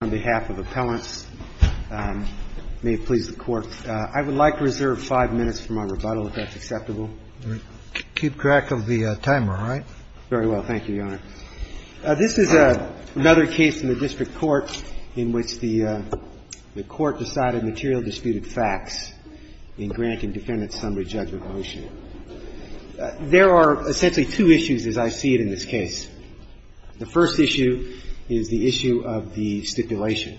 on behalf of appellants. May it please the Court. I would like to reserve five minutes for my rebuttal, if that's acceptable. Keep track of the timer, all right? Very well. Thank you, Your Honor. This is another case in the district court in which the court decided material disputed facts in Grant and Defendant's summary judgment motion. There are essentially two issues, as I see it, in this case. The first issue is the issue of the stipulation.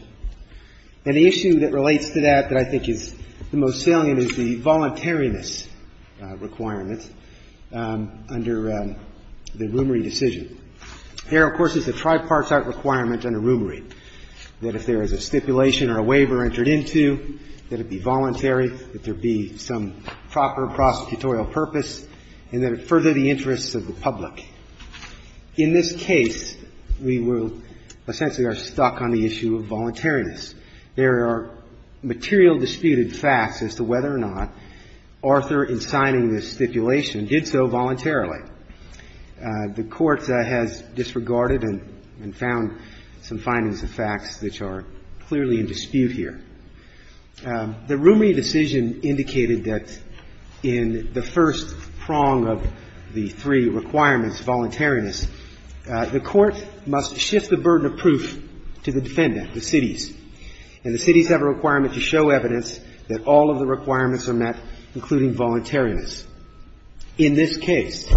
And the issue that relates to that that I think is the most salient is the voluntariness requirement under the rumory decision. Here, of course, is the tripartite requirement under rumory, that if there is a stipulation or a waiver entered into, that it be voluntary, that there be some proper prosecutorial purpose, and that it further the interests of the public. In this case, we were – essentially are stuck on the issue of voluntariness. There are material disputed facts as to whether or not Arthur, in signing this stipulation, did so voluntarily. The Court has disregarded and found some findings of facts which are clearly in dispute here. The rumory decision indicated that in the first prong of the three requirements, voluntariness, the Court must shift the burden of proof to the defendant, the cities. And the cities have a requirement to show evidence that all of the requirements are met, including voluntariness. In this case,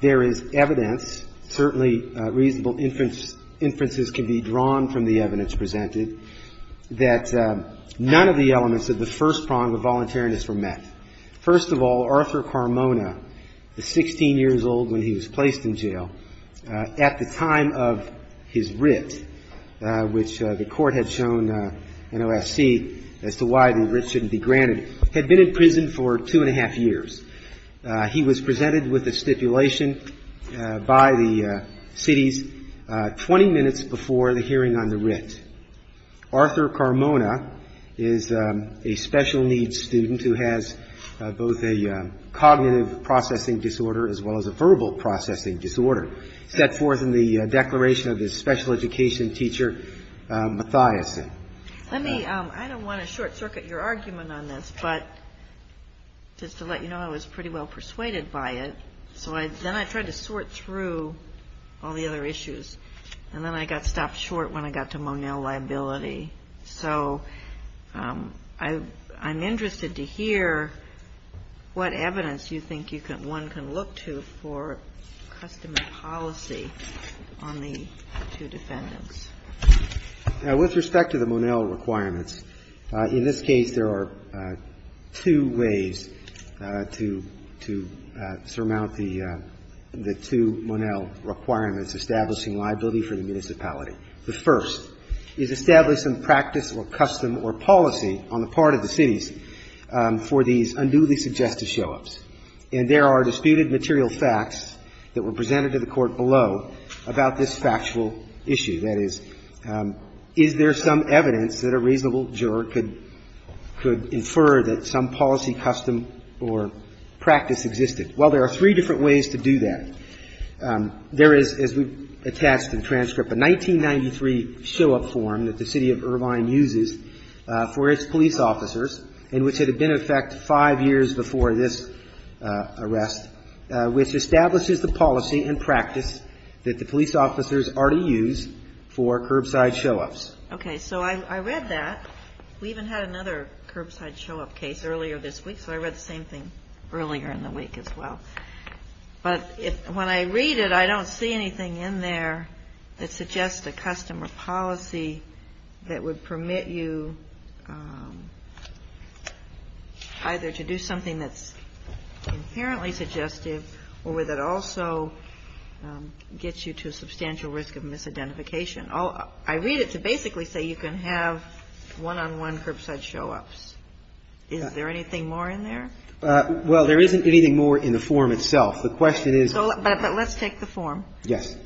there is evidence, certainly reasonable inferences can be drawn from the evidence presented, that none of the elements of the first prong of voluntariness were met. First of all, Arthur Carmona, 16 years old when he was placed in jail, at the time of his writ, which the Court had shown in OSC as to why the writ shouldn't be granted, had been in prison for two and a half years. He was presented with a stipulation by the cities 20 minutes before the hearing on the writ. Arthur Carmona is a special needs student who has both a cognitive processing disorder as well as a verbal processing disorder, set forth in the declaration of his special education teacher, Mathiasen. I don't want to short-circuit your argument on this, but just to let you know, I was pretty well persuaded by it. So then I tried to sort through all the other issues, and then I got stopped short when I got to Monell liability. So I'm interested to hear what evidence you think one can look to for customary policy on the two defendants. Now, with respect to the Monell requirements, in this case there are two ways to surmount the two Monell requirements establishing liability for the municipality. The first is establish some practice or custom or policy on the part of the cities for these unduly suggestive show-ups. And there are disputed material facts that were presented to the Court below about this factual issue. That is, is there some evidence that a reasonable juror could infer that some policy, custom, or practice existed? Well, there are three different ways to do that. There is, as we've attached in transcript, a 1993 show-up form that the City of Irvine uses for its police officers and which had been in effect five years before this arrest, which establishes the policy and practice that the police officers are to use for curbside show-ups. Okay. So I read that. We even had another curbside show-up case earlier this week, so I read the same thing earlier in the week as well. But when I read it, I don't see anything in there that suggests a custom or policy that would permit you either to do something that's inherently suggestive or that also gets you to a substantial risk of misidentification. I read it to basically say you can have one-on-one curbside show-ups. Is there anything more in there? Well, there isn't anything more in the form itself. The question is so let's take the form. Yes.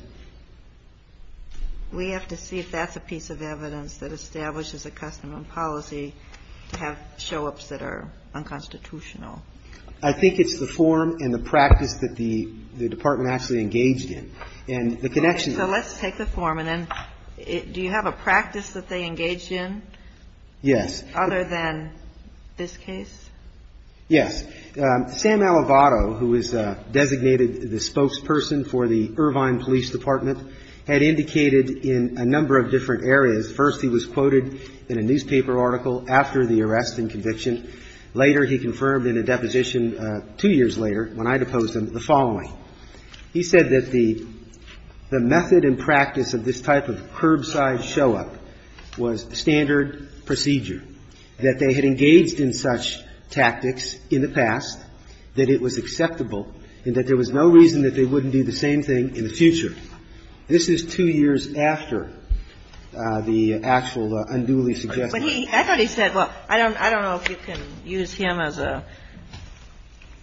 We have to see if that's a piece of evidence that establishes a custom and policy to have show-ups that are unconstitutional. I think it's the form and the practice that the department actually engaged in. And the connection is. So let's take the form, and then do you have a practice that they engaged in? Yes. Other than this case? Yes. Sam Alivato, who is designated the spokesperson for the Irvine Police Department, had indicated in a number of different areas. First, he was quoted in a newspaper article after the arrest and conviction. Later, he confirmed in a deposition, two years later, when I deposed him, the following. He said that the method and practice of this type of curbside show-up was standard procedure, that they had engaged in such tactics in the past, that it was acceptable, and that there was no reason that they wouldn't do the same thing in the future. This is two years after the actual unduly suggestive. But he, I thought he said, well, I don't know if you can use him as a,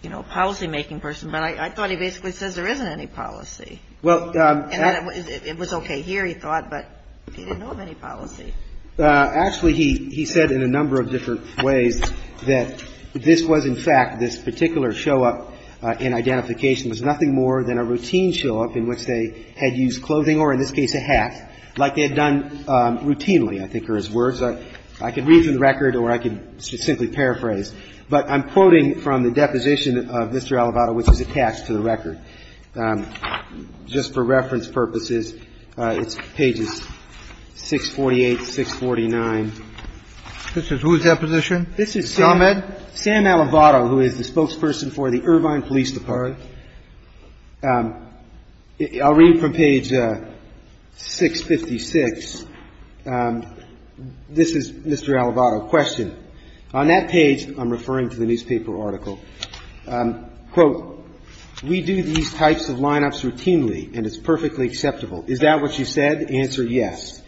you know, policymaking person, but I thought he basically says there isn't any policy. It was okay here, he thought, but he didn't know of any policy. Actually, he said in a number of different ways that this was, in fact, this particular show-up and identification was nothing more than a routine show-up in which they had used clothing or, in this case, a hat, like they had done routinely, I think, in this particular case. Now, I'm not going to read through the record. I'm not going to read through the record as words. I can read through the record or I can simply paraphrase. But I'm quoting from the deposition of Mr. Alivato, which is attached to the record. Just for reference purposes, it's pages 648, 649. This is whose deposition? This is Sam Alivato, who is the spokesperson for the Irvine Police Department. I'm sorry. I'll read from page 656. This is Mr. Alivato. Question. On that page, I'm referring to the newspaper article. Quote, we do these types of lineups routinely and it's perfectly acceptable. Is that what you said? Answer, yes.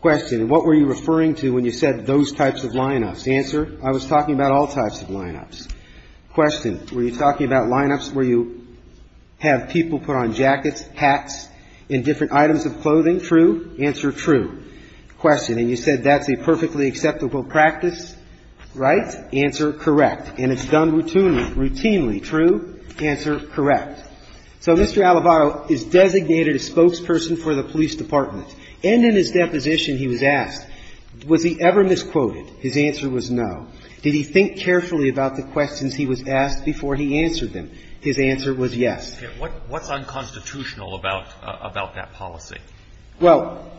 Question. What were you referring to when you said those types of lineups? Answer. I was talking about all types of lineups. Question. Were you talking about lineups where you have people put on jackets, hats, and different items of clothing? True. Answer. True. Question. And you said that's a perfectly acceptable practice, right? Answer. Correct. And it's done routinely. Routinely. True. Answer. Correct. So Mr. Alivato is designated a spokesperson for the police department. And in his deposition, he was asked, was he ever misquoted? His answer was no. Did he think carefully about the questions he was asked before he answered them? His answer was yes. Okay. What's unconstitutional about that policy? Well,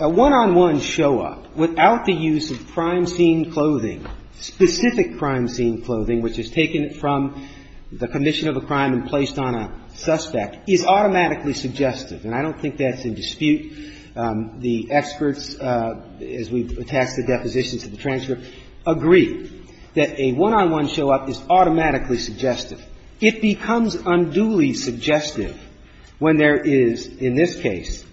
a one-on-one show-up without the use of crime scene clothing, specific crime scene clothing, which is taken from the condition of a crime and placed on a suspect, is automatically suggestive. And I don't think that's in dispute. The experts, as we've attached the deposition to the transcript, agree that a one-on-one show-up is automatically suggestive. It becomes unduly suggestive when there is, in this case,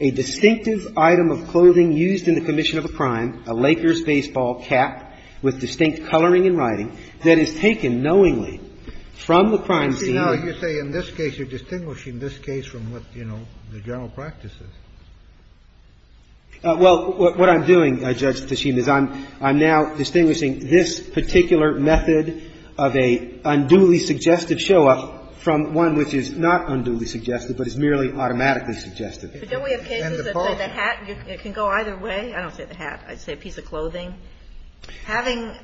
a distinctive item of clothing used in the condition of a crime, a Lakers baseball cap with distinct coloring and writing, that is taken knowingly from the crime scene. Now, you say in this case you're distinguishing this case from what, you know, the general practice is. Well, what I'm doing, Judge Tachim, is I'm now distinguishing this particular method of an unduly suggestive show-up from one which is not unduly suggestive, but is merely automatically suggestive. But don't we have cases where the hat can go either way? I don't say the hat. I'd say a piece of clothing. Having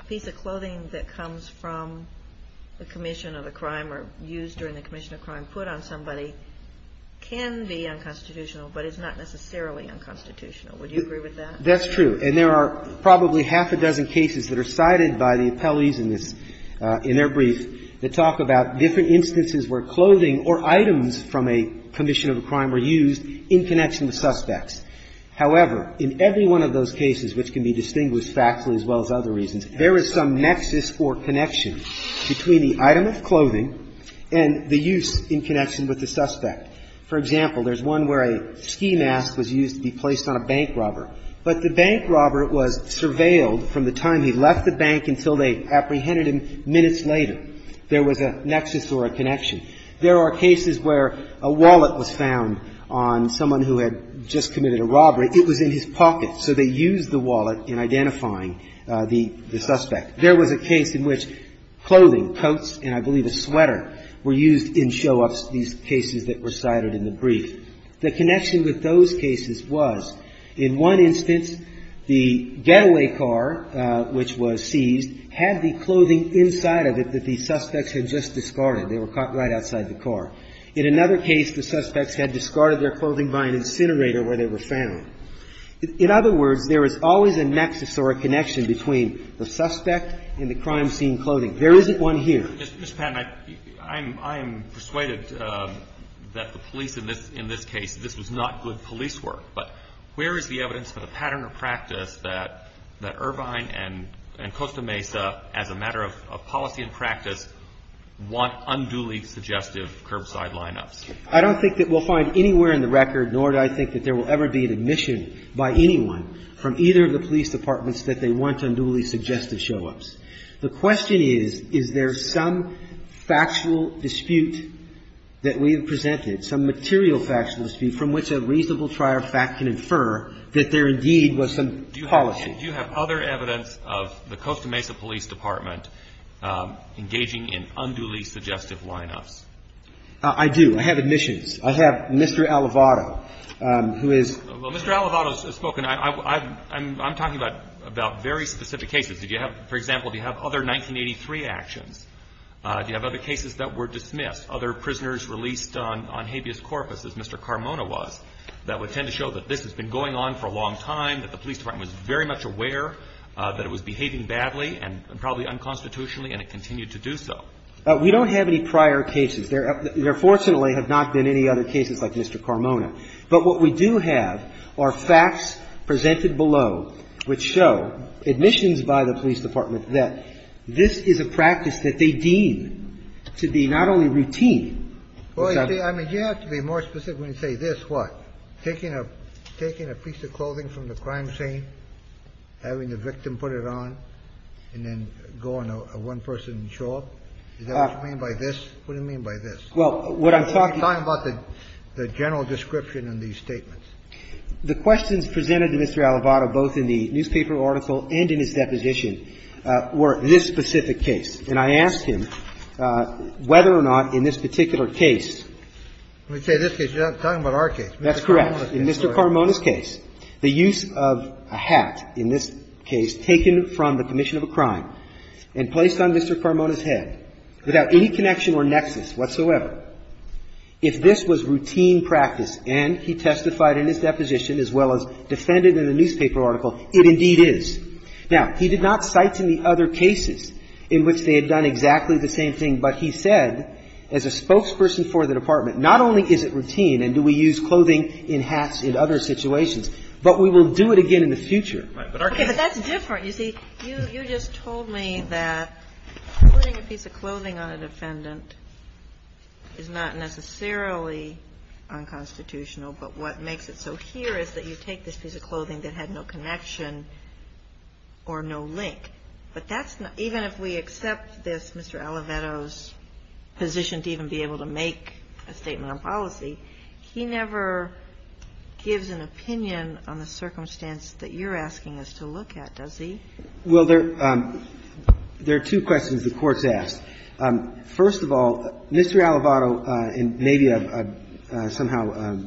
a piece of clothing that comes from the commission of a crime or used during the commission of a crime put on somebody can be unconstitutional, but it's not necessarily unconstitutional. Would you agree with that? That's true. And there are probably half a dozen cases that are cited by the appellees in this – in their brief that talk about different instances where clothing or items from a commission of a crime were used in connection with suspects. However, in every one of those cases, which can be distinguished factually as well as other reasons, there is some nexus or connection between the item of clothing and the use in connection with the suspect. For example, there's one where a ski mask was used to be placed on a bank robber, but the bank robber was surveilled from the time he left the bank until they apprehended him minutes later. There was a nexus or a connection. There are cases where a wallet was found on someone who had just committed a robbery. It was in his pocket, so they used the wallet in identifying the suspect. There was a case in which clothing, coats and I believe a sweater, were used in show-ups, these cases that were cited in the brief. The connection with those cases was, in one instance, the getaway car, which was seized, had the clothing inside of it that the suspects had just discarded. They were caught right outside the car. In another case, the suspects had discarded their clothing by an incinerator where they were found. In other words, there is always a nexus or a connection between the suspect and the crime scene clothing. There isn't one here. Mr. Patton, I'm persuaded that the police in this case, this was not good police work. But where is the evidence for the pattern of practice that Irvine and Costa Mesa, as a matter of policy and practice, want unduly suggestive curbside lineups? I don't think that we'll find anywhere in the record, nor do I think that there will ever be an admission by anyone from either of the police departments that they want unduly suggestive show-ups. The question is, is there some factual dispute that we have presented, some material factual dispute from which a reasonable trier of fact can infer that there indeed was some policy. Do you have other evidence of the Costa Mesa Police Department engaging in unduly suggestive lineups? I do. I have admissions. I have Mr. Alivato, who is – Well, Mr. Alivato has spoken. I'm talking about very specific cases. For example, do you have other 1983 actions? Do you have other cases that were dismissed, other prisoners released on habeas corpus, as Mr. Carmona was, that would tend to show that this has been going on for a long time, that the police department was very much aware that it was behaving badly and probably unconstitutionally, and it continued to do so? We don't have any prior cases. There fortunately have not been any other cases like Mr. Carmona. But what we do have are facts presented below which show admissions by the police department that this is a practice that they deem to be not only routine. Well, I mean, you have to be more specific when you say this. What? Taking a piece of clothing from the crime scene, having the victim put it on, and then going to one person and show up? Is that what you mean by this? What do you mean by this? Well, what I'm talking about is the general description in these statements. The questions presented to Mr. Alivato both in the newspaper article and in his deposition were this specific case. And I asked him whether or not in this particular case – When you say this case, you're not talking about our case. In Mr. Carmona's case, the use of a hat in this case taken from the commission of a crime and placed on Mr. Carmona's head without any connection or nexus whatsoever, if this was routine practice and he testified in his deposition as well as defended in the newspaper article, it indeed is. Now, he did not cite any other cases in which they had done exactly the same thing, but he said as a spokesperson for the department, not only is it routine and do we use clothing in hats in other situations, but we will do it again in the future. Okay. But that's different. You see, you just told me that putting a piece of clothing on a defendant is not necessarily unconstitutional, but what makes it so here is that you take this piece of clothing that had no connection or no link. But that's not – even if we accept this, Mr. Alivato's position to even be able to make a statement on policy, he never gives an opinion on the circumstance that you're asking us to look at, does he? Well, there are two questions the Court's asked. First of all, Mr. Alivato, and maybe I've somehow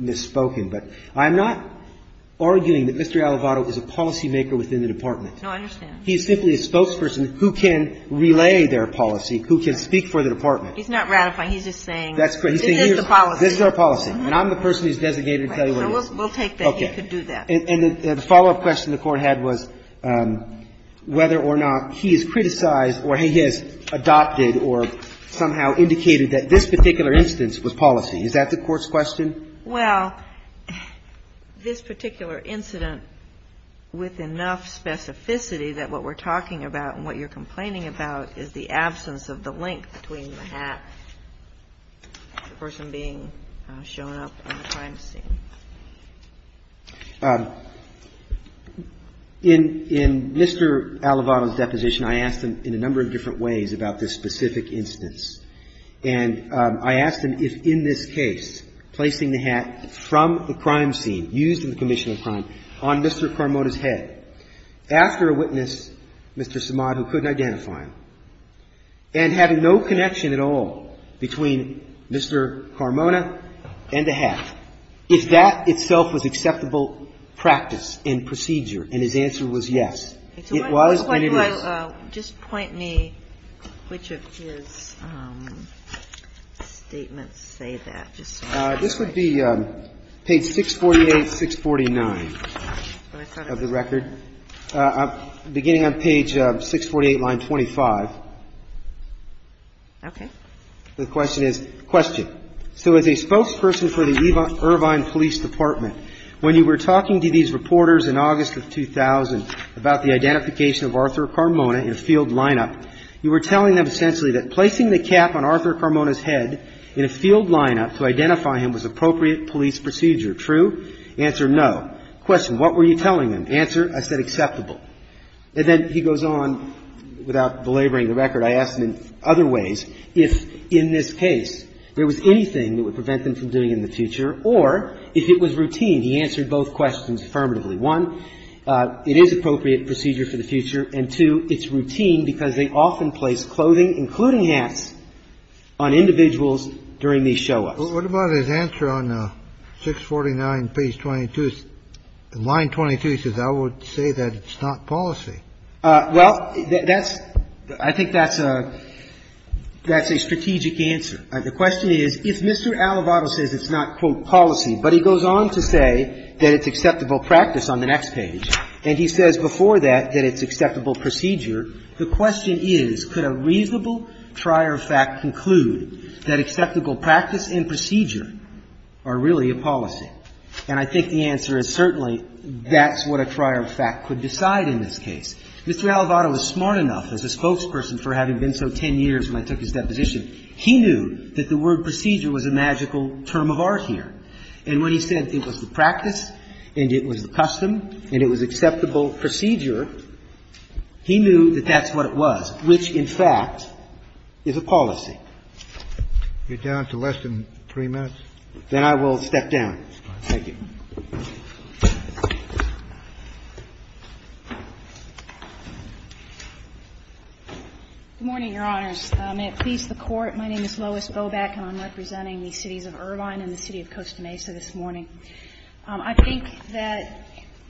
misspoken, but I'm not arguing that Mr. Alivato is a policymaker within the department. No, I understand. He's simply a spokesperson who can relay their policy, who can speak for the department. He's not ratifying. He's just saying this is the policy. This is our policy. And I'm the person who's designated to tell you what it is. Right. So we'll take that. He could do that. Okay. And the follow-up question the Court had was whether or not he has criticized or he has adopted or somehow indicated that this particular instance was policy. Is that the Court's question? Well, this particular incident, with enough specificity that what we're talking about and what you're complaining about is the absence of the link between the hat and the person being shown up on the crime scene. In Mr. Alivato's deposition, I asked him in a number of different ways about this specific instance. And I asked him if in this case, placing the hat from the crime scene, used in the commission of crime, on Mr. Carmona's head. After a witness, Mr. Samad, who couldn't identify him, and having no connection at all between Mr. Carmona and the hat, if that itself was acceptable practice and procedure, and his answer was yes, it was and it is. Just point me to which of his statements say that. This would be page 648, 649 of the record, beginning on page 648, line 25. Okay. The question is, question. So as a spokesperson for the Irvine Police Department, when you were talking to these reporters in August of 2000 about the identification of Arthur Carmona in a field lineup, you were telling them essentially that placing the cap on Arthur Carmona's head in a field lineup to identify him was appropriate police procedure, true? Answer, no. Question, what were you telling them? Answer, I said acceptable. And then he goes on, without belaboring the record, I asked him in other ways if in this case there was anything that would prevent them from doing it in the future or if it was routine. He answered both questions affirmatively. One, it is appropriate procedure for the future, and two, it's routine because they often place clothing, including hats, on individuals during these show-ups. What about his answer on 649, page 22? Line 22 says, I would say that it's not policy. Well, that's – I think that's a strategic answer. The question is, if Mr. Alivato says it's not, quote, policy, but he goes on to say that it's acceptable practice on the next page, and he says before that that it's not, the question is, could a reasonable trier of fact conclude that acceptable practice and procedure are really a policy? And I think the answer is certainly that's what a trier of fact could decide in this case. Mr. Alivato was smart enough, as a spokesperson for having been so ten years when I took his deposition, he knew that the word procedure was a magical term of art here. And when he said it was the practice and it was the custom and it was acceptable procedure, he knew that that's what it was, which, in fact, is a policy. You're down to less than three minutes. Then I will step down. Thank you. Good morning, Your Honors. May it please the Court. My name is Lois Boback, and I'm representing the cities of Irvine and the city of Costa Mesa this morning. I think that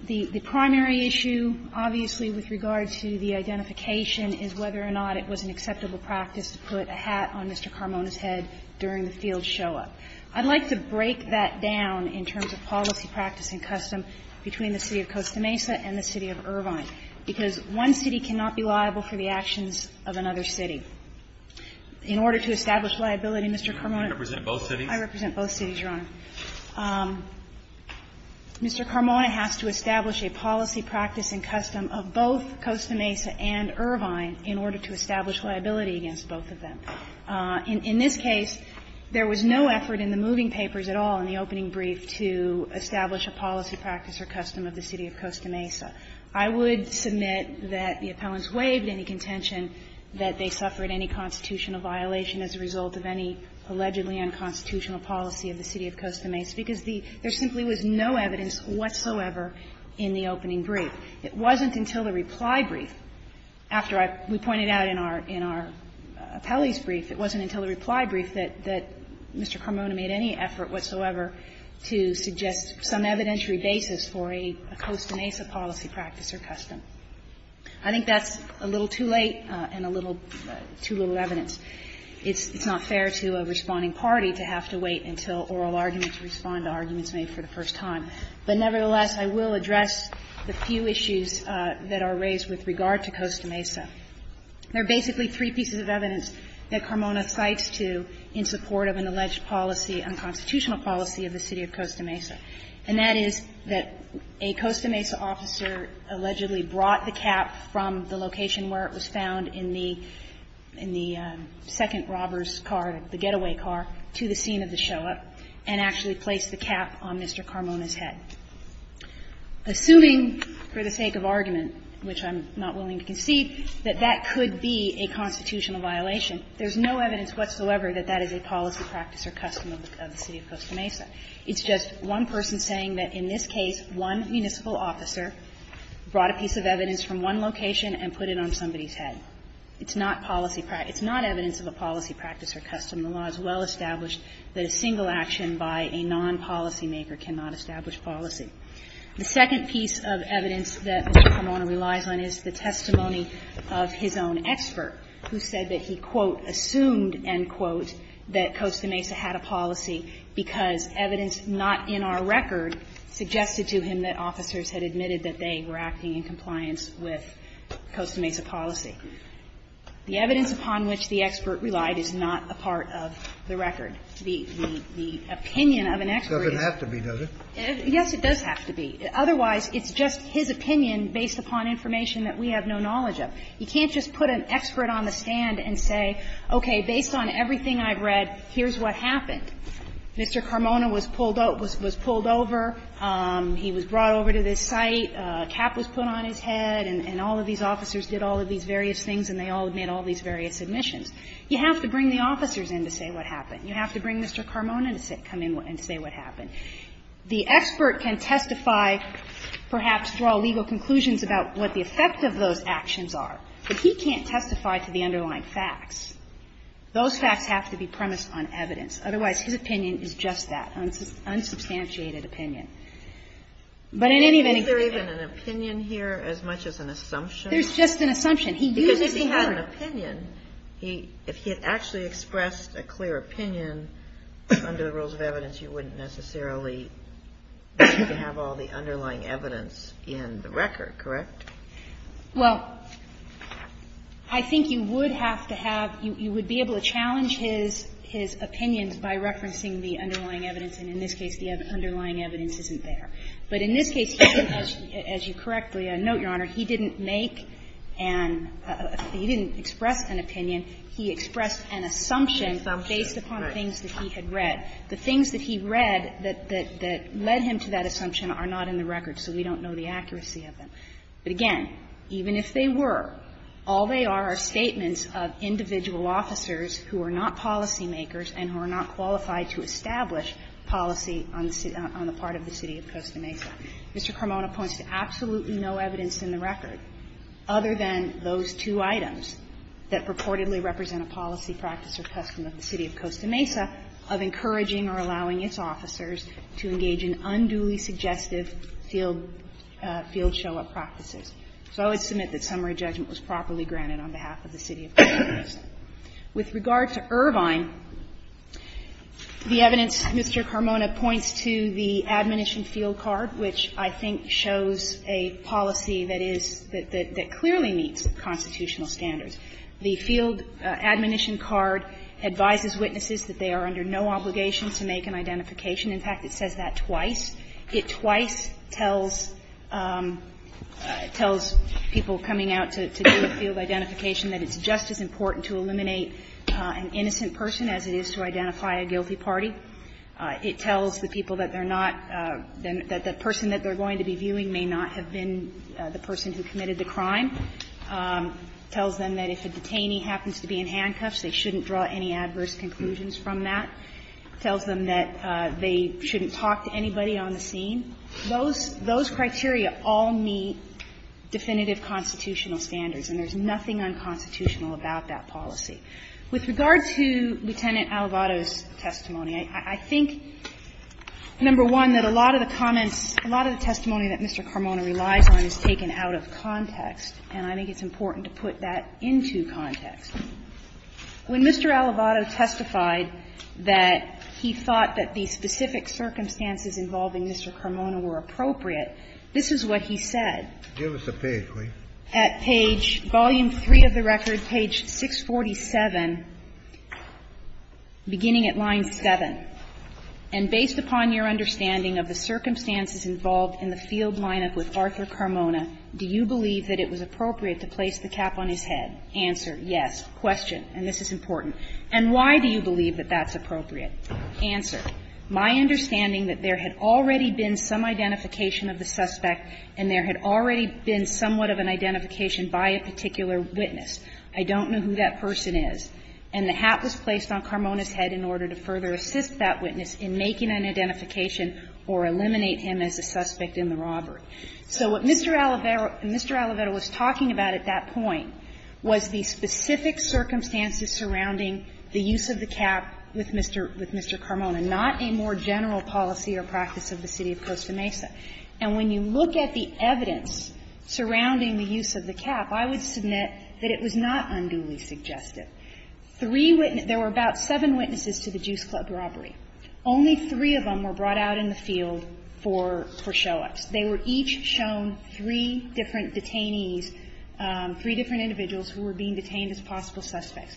the primary issue, obviously, with regard to the identification is whether or not it was an acceptable practice to put a hat on Mr. Carmona's head during the field show-up. I'd like to break that down in terms of policy, practice and custom between the city of Costa Mesa and the city of Irvine, because one city cannot be liable for the actions of another city. In order to establish liability, Mr. Carmona, I represent both cities, Your Honor. Mr. Carmona has to establish a policy, practice and custom of both Costa Mesa and Irvine in order to establish liability against both of them. In this case, there was no effort in the moving papers at all, in the opening brief, to establish a policy, practice or custom of the city of Costa Mesa. I would submit that the appellants waived any contention that they suffered any constitutional violation as a result of any allegedly unconstitutional policy of the city of Costa Mesa, because there simply was no evidence whatsoever in the opening brief. It wasn't until the reply brief, after we pointed out in our appellee's brief, it wasn't until the reply brief that Mr. Carmona made any effort whatsoever to suggest some evidentiary basis for a Costa Mesa policy, practice or custom. I think that's a little too late and a little too little evidence. It's not fair to a responding party to have to wait until oral arguments respond to arguments made for the first time. But nevertheless, I will address the few issues that are raised with regard to Costa Mesa. There are basically three pieces of evidence that Carmona cites to in support of an alleged policy, unconstitutional policy of the city of Costa Mesa, and that is that a Costa Mesa officer allegedly brought the cap from the location where it was the second robber's car, the getaway car, to the scene of the show-up, and actually placed the cap on Mr. Carmona's head. Assuming, for the sake of argument, which I'm not willing to concede, that that could be a constitutional violation, there's no evidence whatsoever that that is a policy, practice or custom of the city of Costa Mesa. It's just one person saying that in this case, one municipal officer brought a piece of evidence from one location and put it on somebody's head. It's not policy practice. It's not evidence of a policy, practice or custom. The law is well established that a single action by a non-policymaker cannot establish policy. The second piece of evidence that Mr. Carmona relies on is the testimony of his own expert, who said that he, quote, assumed, end quote, that Costa Mesa had a policy because evidence not in our record suggested to him that officers had admitted that they were acting in compliance with Costa Mesa policy. The evidence upon which the expert relied is not a part of the record. The opinion of an expert is not a part of the record. Scalia, it doesn't have to be, does it? Yes, it does have to be. Otherwise, it's just his opinion based upon information that we have no knowledge of. You can't just put an expert on the stand and say, okay, based on everything I've read, here's what happened. Mr. Carmona was pulled over. He was brought over to this site. A cap was put on his head. And all of these officers did all of these various things and they all made all these various admissions. You have to bring the officers in to say what happened. You have to bring Mr. Carmona to come in and say what happened. The expert can testify, perhaps draw legal conclusions about what the effect of those actions are, but he can't testify to the underlying facts. Those facts have to be premised on evidence. Otherwise, his opinion is just that, unsubstantiated opinion. But in any event, he can't testify to the underlying facts. As much as an assumption. There's just an assumption. Because if he had an opinion, if he had actually expressed a clear opinion under the rules of evidence, you wouldn't necessarily have all the underlying evidence in the record, correct? Well, I think you would have to have, you would be able to challenge his opinions by referencing the underlying evidence. And in this case, the underlying evidence isn't there. But in this case, he didn't, as you correctly note, Your Honor, he didn't make an – he didn't express an opinion. He expressed an assumption based upon the things that he had read. The things that he read that led him to that assumption are not in the record. So we don't know the accuracy of them. But again, even if they were, all they are are statements of individual officers who are not policymakers and who are not qualified to establish policy on the part of the City of Costa Mesa. Mr. Carmona points to absolutely no evidence in the record, other than those two items, that purportedly represent a policy, practice, or custom of the City of Costa Mesa of encouraging or allowing its officers to engage in unduly suggestive field show-up practices. So I would submit that summary judgment was properly granted on behalf of the City of Costa Mesa. With regard to Irvine, the evidence, Mr. Carmona points to the admonition field card, which I think shows a policy that is – that clearly meets constitutional standards. The field admonition card advises witnesses that they are under no obligation to make an identification. In fact, it says that twice. It twice tells people coming out to do a field identification that it's just as important to eliminate an innocent person as it is to identify a guilty party. It tells the people that they're not – that the person that they're going to be viewing may not have been the person who committed the crime. It tells them that if a detainee happens to be in handcuffs, they shouldn't draw any adverse conclusions from that. It tells them that they shouldn't talk to anybody on the scene. Those – those criteria all meet definitive constitutional standards, and there's nothing unconstitutional about that policy. With regard to Lieutenant Alivado's testimony, I think, number one, that a lot of the comments – a lot of the testimony that Mr. Carmona relies on is taken out of context, and I think it's important to put that into context. When Mr. Alivado testified that he thought that the specific circumstances involving Mr. Carmona were appropriate, this is what he said. Give us a page, please. At page – volume 3 of the record, page 647, beginning at line 7. And based upon your understanding of the circumstances involved in the field lineup with Arthur Carmona, do you believe that it was appropriate to place the cap on his head? Answer, yes. Question, and this is important. And why do you believe that that's appropriate? Answer. My understanding that there had already been some identification of the suspect and there had already been somewhat of an identification by a particular witness. I don't know who that person is. And the hat was placed on Carmona's head in order to further assist that witness in making an identification or eliminate him as a suspect in the robbery. So what Mr. Alivado – Mr. Alivado was talking about at that point was the specific circumstances surrounding the use of the cap with Mr. – with Mr. Carmona, not a more general policy or practice of the city of Costa Mesa. And when you look at the evidence surrounding the use of the cap, I would submit that it was not unduly suggestive. Three witnesses – there were about seven witnesses to the Juice Club robbery. Only three of them were brought out in the field for show-ups. They were each shown three different detainees, three different individuals who were being detained as possible suspects.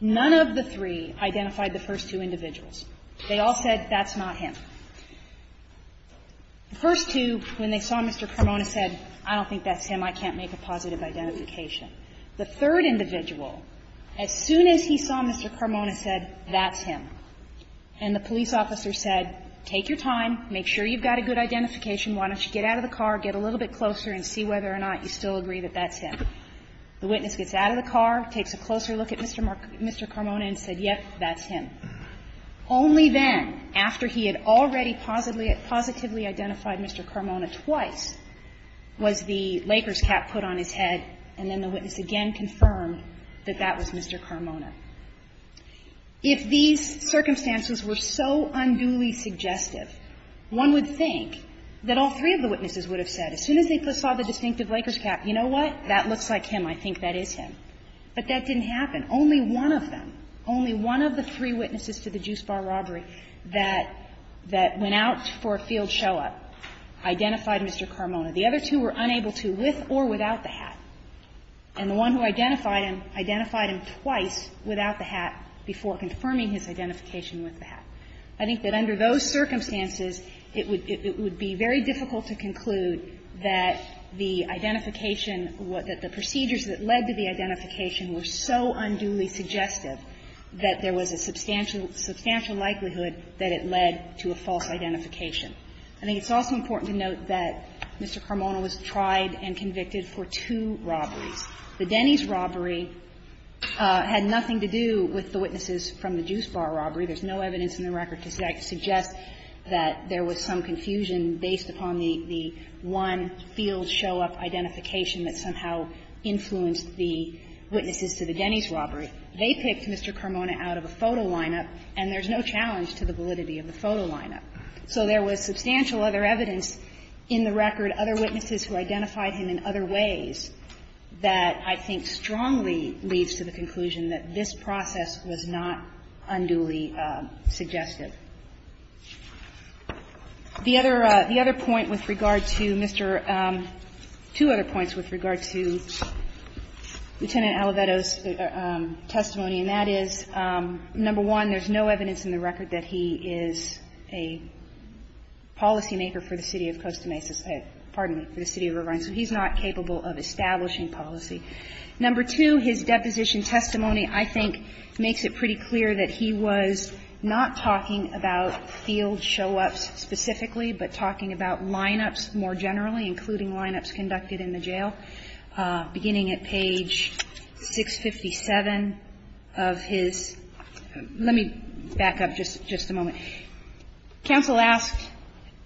None of the three identified the first two individuals. They all said that's not him. The first two, when they saw Mr. Carmona, said, I don't think that's him, I can't make a positive identification. The third individual, as soon as he saw Mr. Carmona, said, that's him. And the police officer said, take your time, make sure you've got a good identification, why don't you get out of the car, get a little bit closer and see whether or not you still agree that that's him. The witness gets out of the car, takes a closer look at Mr. Carmona and said, yes, that's him. Only then, after he had already positively identified Mr. Carmona twice, was the Lakers cap put on his head, and then the witness again confirmed that that was Mr. Carmona. If these circumstances were so unduly suggestive, one would think that all three of the witnesses would have said, as soon as they saw the distinctive Lakers cap, you know what, that looks like him, I think that is him. But that didn't happen. Only one of them, only one of the three witnesses to the Juice Bar robbery that went out for a field show-up identified Mr. Carmona. The other two were unable to, with or without the hat. And the one who identified him identified him twice without the hat before confirming his identification with the hat. I think that under those circumstances, it would be very difficult to conclude that the identification, that the procedures that led to the identification were so unduly suggestive that there was a substantial, substantial likelihood that it led to a false identification. I think it's also important to note that Mr. Carmona was tried and convicted for two robberies. The Denny's robbery had nothing to do with the witnesses from the Juice Bar robbery. There's no evidence in the record to suggest that there was some confusion based upon the one field show-up identification that somehow influenced the witnesses to the Denny's robbery. They picked Mr. Carmona out of a photo lineup, and there's no challenge to the validity of the photo lineup. So there was substantial other evidence in the record, other witnesses who identified him in other ways, that I think strongly leads to the conclusion that this process was not unduly suggestive. The other point with regard to Mr. — two other points with regard to Lieutenant Aliveto's testimony, and that is, number one, there's no evidence in the record that he is a policymaker for the city of Costa Mesa — pardon me, for the city of Rivine. So he's not capable of establishing policy. Number two, his deposition testimony, I think, makes it pretty clear that he was not talking about field show-ups specifically, but talking about lineups more generally, including lineups conducted in the jail, beginning at page 657 of his — let me back up just a moment. Counsel asked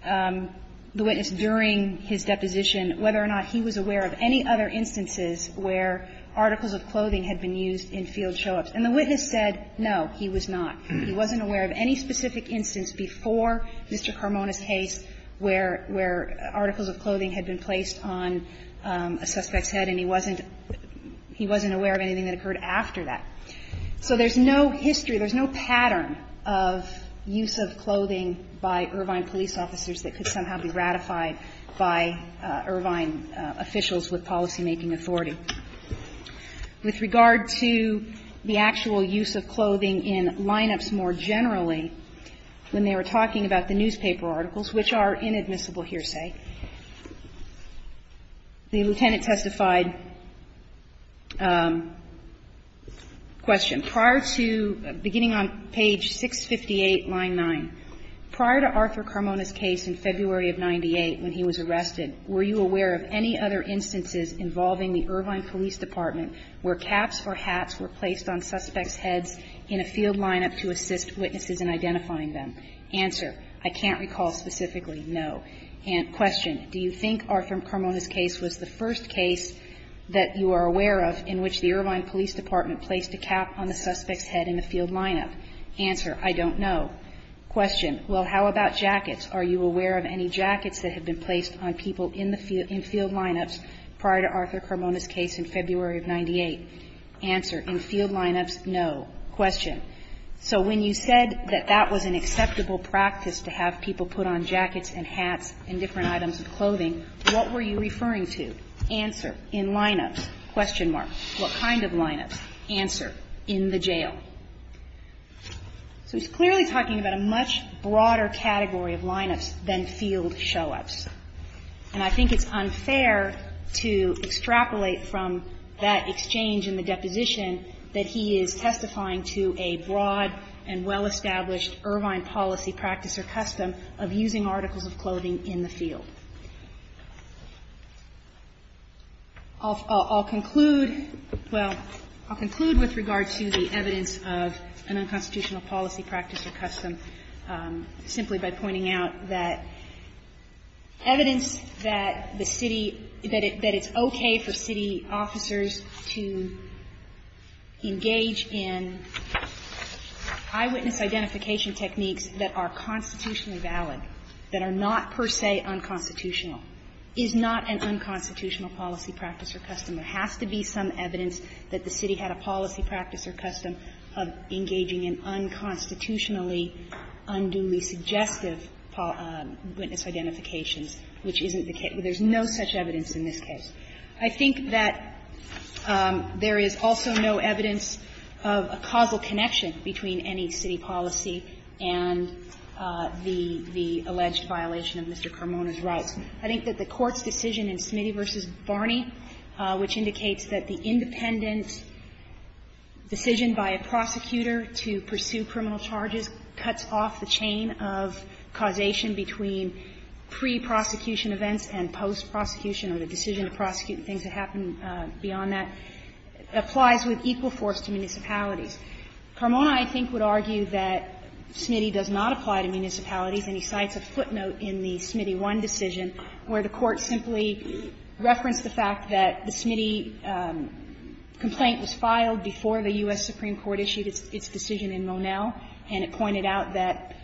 the witness during his deposition whether or not he was aware of any other instances where articles of clothing had been used in field show-ups. And the witness said, no, he was not. He wasn't aware of any specific instance before Mr. Carmona's case where — where articles of clothing had been placed on a suspect's head, and he wasn't — he wasn't aware of anything that occurred after that. So there's no history, there's no pattern of use of clothing by Irvine police officers that could somehow be ratified by Irvine officials with policymaking authority. With regard to the actual use of clothing in lineups more generally, when they were talking about the newspaper articles, which are inadmissible here, say, the lieutenant testified, question, prior to — beginning on page 658, line 9, prior to Arthur Carmona's case in February of 98, when he was arrested, were you aware of any other instances involving the Irvine police department where caps or hats were placed on suspects' heads in a field lineup to assist witnesses in identifying them? Answer, I can't recall specifically, no. And question, do you think Arthur Carmona's case was the first case that you are aware of in which the Irvine police department placed a cap on the suspect's head in the field lineup? Answer, I don't know. Question, well, how about jackets? Are you aware of any jackets that have been placed on people in the field — in field lineups prior to Arthur Carmona's case in February of 98? Answer, in field lineups, no. Question, so when you said that that was an acceptable practice to have people put on jackets and hats and different items of clothing, what were you referring to? Answer, in lineups, question mark. What kind of lineups? Answer, in the jail. So he's clearly talking about a much broader category of lineups than field showups. And I think it's unfair to extrapolate from that exchange in the deposition that he is testifying to a broad and well-established Irvine policy, practice, or custom of using articles of clothing in the field. I'll conclude — well, I'll conclude with regard to the evidence that was presented in the evidence of an unconstitutional policy, practice, or custom, simply by pointing out that evidence that the city — that it's okay for city officers to engage in eyewitness identification techniques that are constitutionally valid, that are not per se unconstitutional, is not an unconstitutional policy, practice, or custom. There has to be some evidence that the city had a policy, practice, or custom of engaging in unconstitutionally, unduly suggestive witness identifications, which isn't the case. There's no such evidence in this case. I think that there is also no evidence of a causal connection between any city policy and the alleged violation of Mr. Carmona's rights. I think that the Court's decision in Smitty v. Barney, which indicates that the independent decision by a prosecutor to pursue criminal charges cuts off the chain of causation between pre-prosecution events and post-prosecution, or the decision to prosecute things that happen beyond that, applies with equal force to municipalities. Carmona, I think, would argue that Smitty does not apply to municipalities, and he cites a footnote in the Smitty 1 decision where the Court simply referenced the fact that the Smitty complaint was filed before the U.S. Supreme Court issued its decision in Monell, and it pointed out that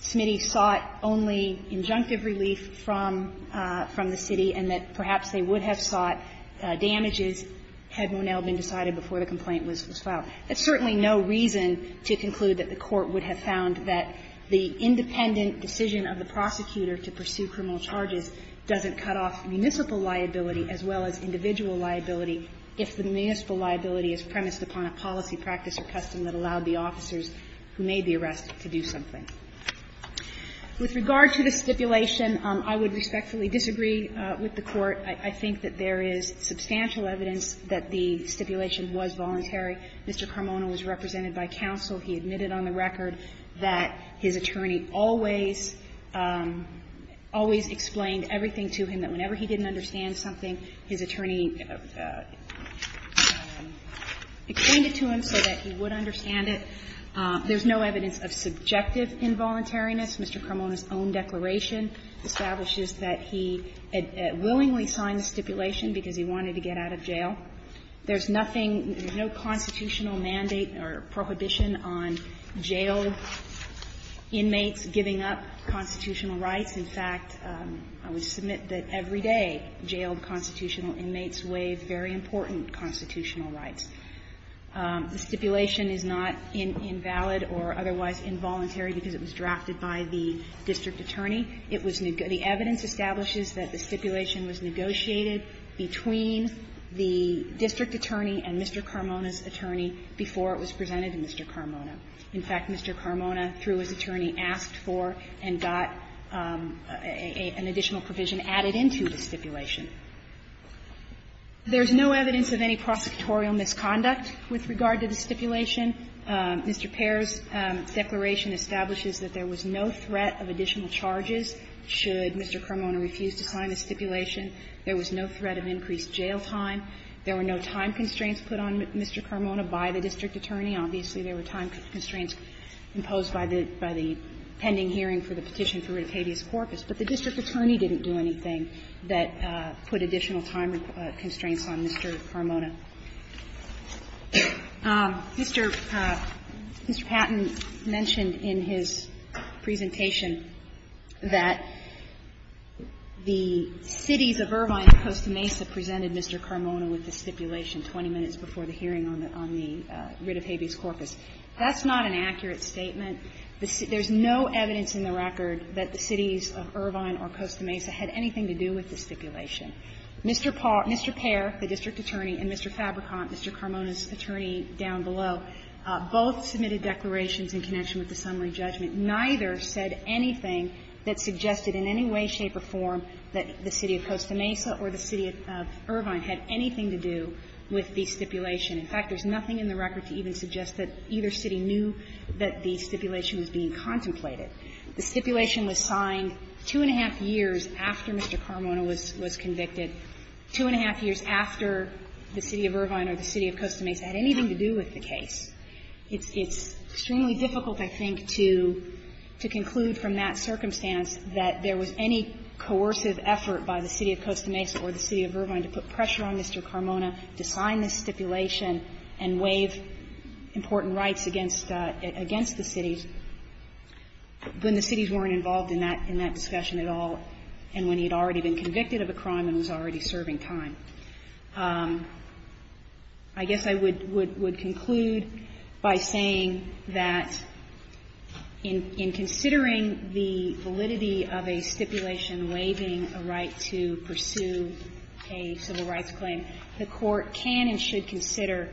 Smitty sought only injunctive relief from the city and that perhaps they would have sought damages had Monell been decided before the complaint was filed. There's certainly no reason to conclude that the Court would have found that the independent decision of the prosecutor to pursue criminal charges doesn't cut off municipal liability as well as individual liability if the municipal liability is premised upon a policy, practice, or custom that allowed the officers who may be arrested to do something. With regard to the stipulation, I would respectfully disagree with the Court. I think that there is substantial evidence that the stipulation was voluntary. Mr. Carmona was represented by counsel. He admitted on the record that his attorney always, always explained everything to him, that whenever he didn't understand something, his attorney explained it to him so that he would understand it. There's no evidence of subjective involuntariness. Mr. Carmona's own declaration establishes that he willingly signed the stipulation because he wanted to get out of jail. There's nothing, no constitutional mandate or prohibition on jailed inmates giving up constitutional rights. In fact, I would submit that every day jailed constitutional inmates waive very important constitutional rights. The stipulation is not invalid or otherwise involuntary because it was drafted by the district attorney. It was the evidence establishes that the stipulation was negotiated between the district attorney and Mr. Carmona's attorney before it was presented to Mr. Carmona. In fact, Mr. Carmona, through his attorney, asked for and got an additional provision added into the stipulation. There's no evidence of any prosecutorial misconduct with regard to the stipulation. Mr. Pair's declaration establishes that there was no threat of additional charges should Mr. Carmona refuse to sign the stipulation. There was no threat of increased jail time. There were no time constraints put on Mr. Carmona by the district attorney. Obviously, there were time constraints imposed by the pending hearing for the petition for a tedious corpus, but the district attorney didn't do anything that put additional time constraints on Mr. Carmona. Mr. Patten mentioned in his presentation that the cities of Irvine and Costa Mesa presented Mr. Carmona with the stipulation 20 minutes before the hearing on the writ of habeas corpus. That's not an accurate statement. There's no evidence in the record that the cities of Irvine or Costa Mesa had anything to do with the stipulation. Mr. Pair, the district attorney, and Mr. Fabricant, Mr. Carmona's attorney down below, both submitted declarations in connection with the summary judgment. Neither said anything that suggested in any way, shape, or form that the city of Costa Mesa or the city of Irvine had anything to do with the stipulation. In fact, there's nothing in the record to even suggest that either city knew that the stipulation was being contemplated. The stipulation was signed two and a half years after Mr. Carmona was convicted, two and a half years after the city of Irvine or the city of Costa Mesa had anything to do with the case. It's extremely difficult, I think, to conclude from that circumstance that there was any coercive effort by the city of Costa Mesa or the city of Irvine to put pressure on Mr. Carmona to sign this stipulation and waive important rights against the cities. When the cities weren't involved in that discussion at all and when he had already been convicted of a crime and was already serving time. I guess I would conclude by saying that in considering the validity of a stipulation waiving a right to pursue a civil rights claim, the Court can and should consider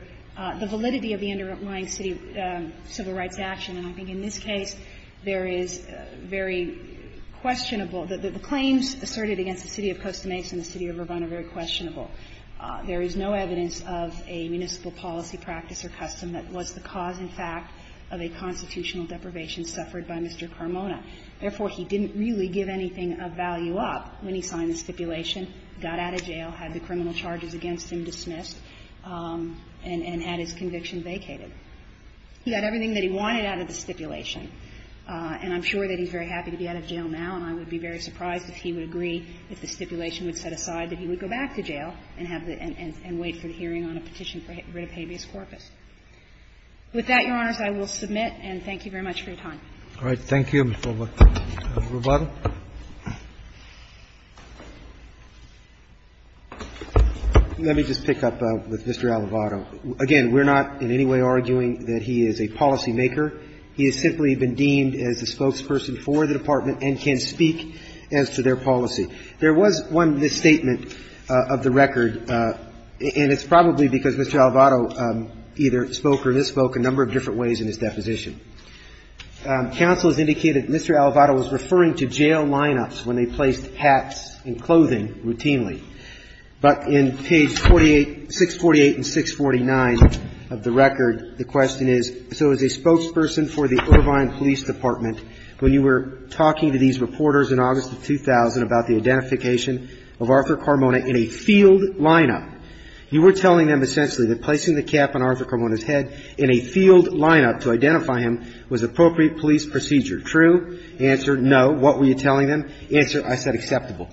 the validity of the underlying city civil rights action. And I think in this case, there is very questionable the claims asserted against the city of Costa Mesa and the city of Irvine are very questionable. There is no evidence of a municipal policy, practice or custom that was the cause in fact of a constitutional deprivation suffered by Mr. Carmona. Therefore, he didn't really give anything of value up when he signed the stipulation, got out of jail, had the criminal charges against him dismissed. And had his conviction vacated. He got everything that he wanted out of the stipulation. And I'm sure that he's very happy to be out of jail now, and I would be very surprised if he would agree, if the stipulation would set aside that he would go back to jail and have the end and wait for the hearing on a petition for writ of habeas corpus. With that, Your Honors, I will submit, and thank you very much for your time. Roberts. Thank you, Mr. Alvarado. Let me just pick up with Mr. Alvarado. Again, we're not in any way arguing that he is a policymaker. He has simply been deemed as a spokesperson for the Department and can speak as to their policy. There was one, this statement of the record, and it's probably because Mr. Alvarado either spoke or misspoke a number of different ways in his deposition. Counsel has indicated that Mr. Alvarado was referring to jail lineups when they placed hats and clothing routinely. But in page 648 and 649 of the record, the question is, so as a spokesperson for the Irvine Police Department, when you were talking to these reporters in August of 2000 about the identification of Arthur Carmona in a field lineup, you were telling them essentially that placing the cap on Arthur Carmona's head in a field lineup to identify him was appropriate police procedure. True? Answer, no. What were you telling them? Answer, I said acceptable.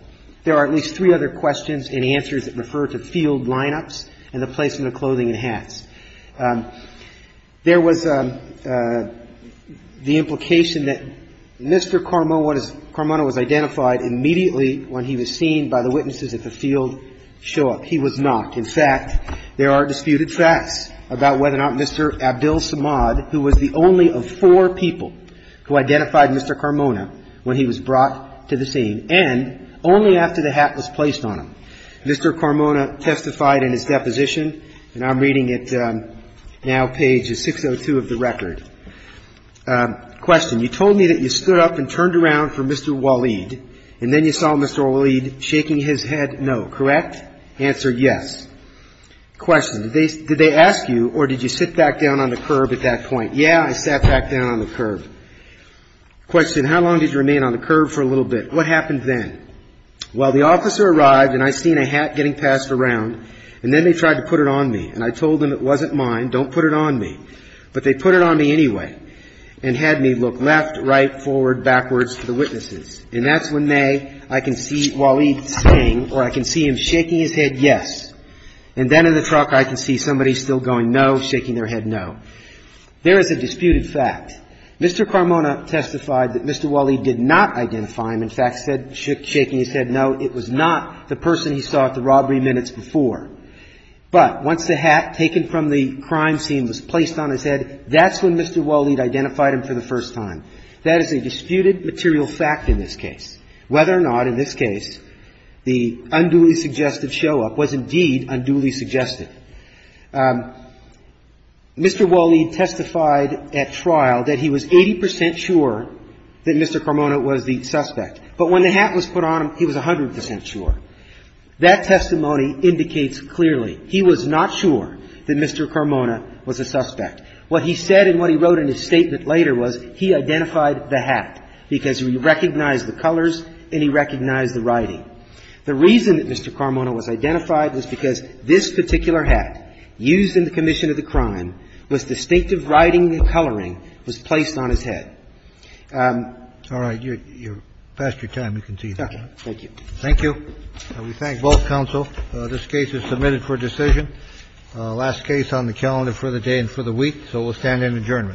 There are at least three other questions and answers that refer to field lineups and the placement of clothing and hats. There was the implication that Mr. Carmona was identified immediately when he was seen by the witnesses at the field show up. He was not. In fact, there are disputed facts about whether or not Mr. Abdul Samad, who was the only of four people who identified Mr. Carmona when he was brought to the scene and only after the hat was placed on him. Mr. Carmona testified in his deposition, and I'm reading it now, page 602 of the record. Question, you told me that you stood up and turned around for Mr. Waleed, and then you saw Mr. Waleed shaking his head no. Correct? Answer, yes. Question, did they ask you or did you sit back down on the curb at that point? Yeah, I sat back down on the curb. Question, how long did you remain on the curb for a little bit? What happened then? Well, the officer arrived and I seen a hat getting passed around, and then they tried to put it on me, and I told them it wasn't mine, don't put it on me. But they put it on me anyway and had me look left, right, forward, backwards to the witnesses. And that's when they, I can see Waleed saying, or I can see him shaking his head yes. And then in the truck I can see somebody still going no, shaking their head no. There is a disputed fact. Mr. Carmona testified that Mr. Waleed did not identify him. In fact, said shaking his head no, it was not the person he saw at the robbery minutes before. But once the hat taken from the crime scene was placed on his head, that's when Mr. Waleed identified him for the first time. That is a disputed material fact in this case. Whether or not in this case the unduly suggestive show-up was indeed unduly suggestive. Mr. Waleed testified at trial that he was 80 percent sure that Mr. Carmona was the suspect. But when the hat was put on him, he was 100 percent sure. That testimony indicates clearly he was not sure that Mr. Carmona was a suspect. What he said and what he wrote in his statement later was he identified the hat, because he recognized the colors and he recognized the writing. The reason that Mr. Carmona was identified was because this particular hat used in the commission of the crime was distinctive writing and coloring was placed on his head. Kennedy, you're past your time to continue. Thank you. Thank you. We thank both counsel. This case is submitted for decision. Last case on the calendar for the day and for the week. So we'll stand in adjournment.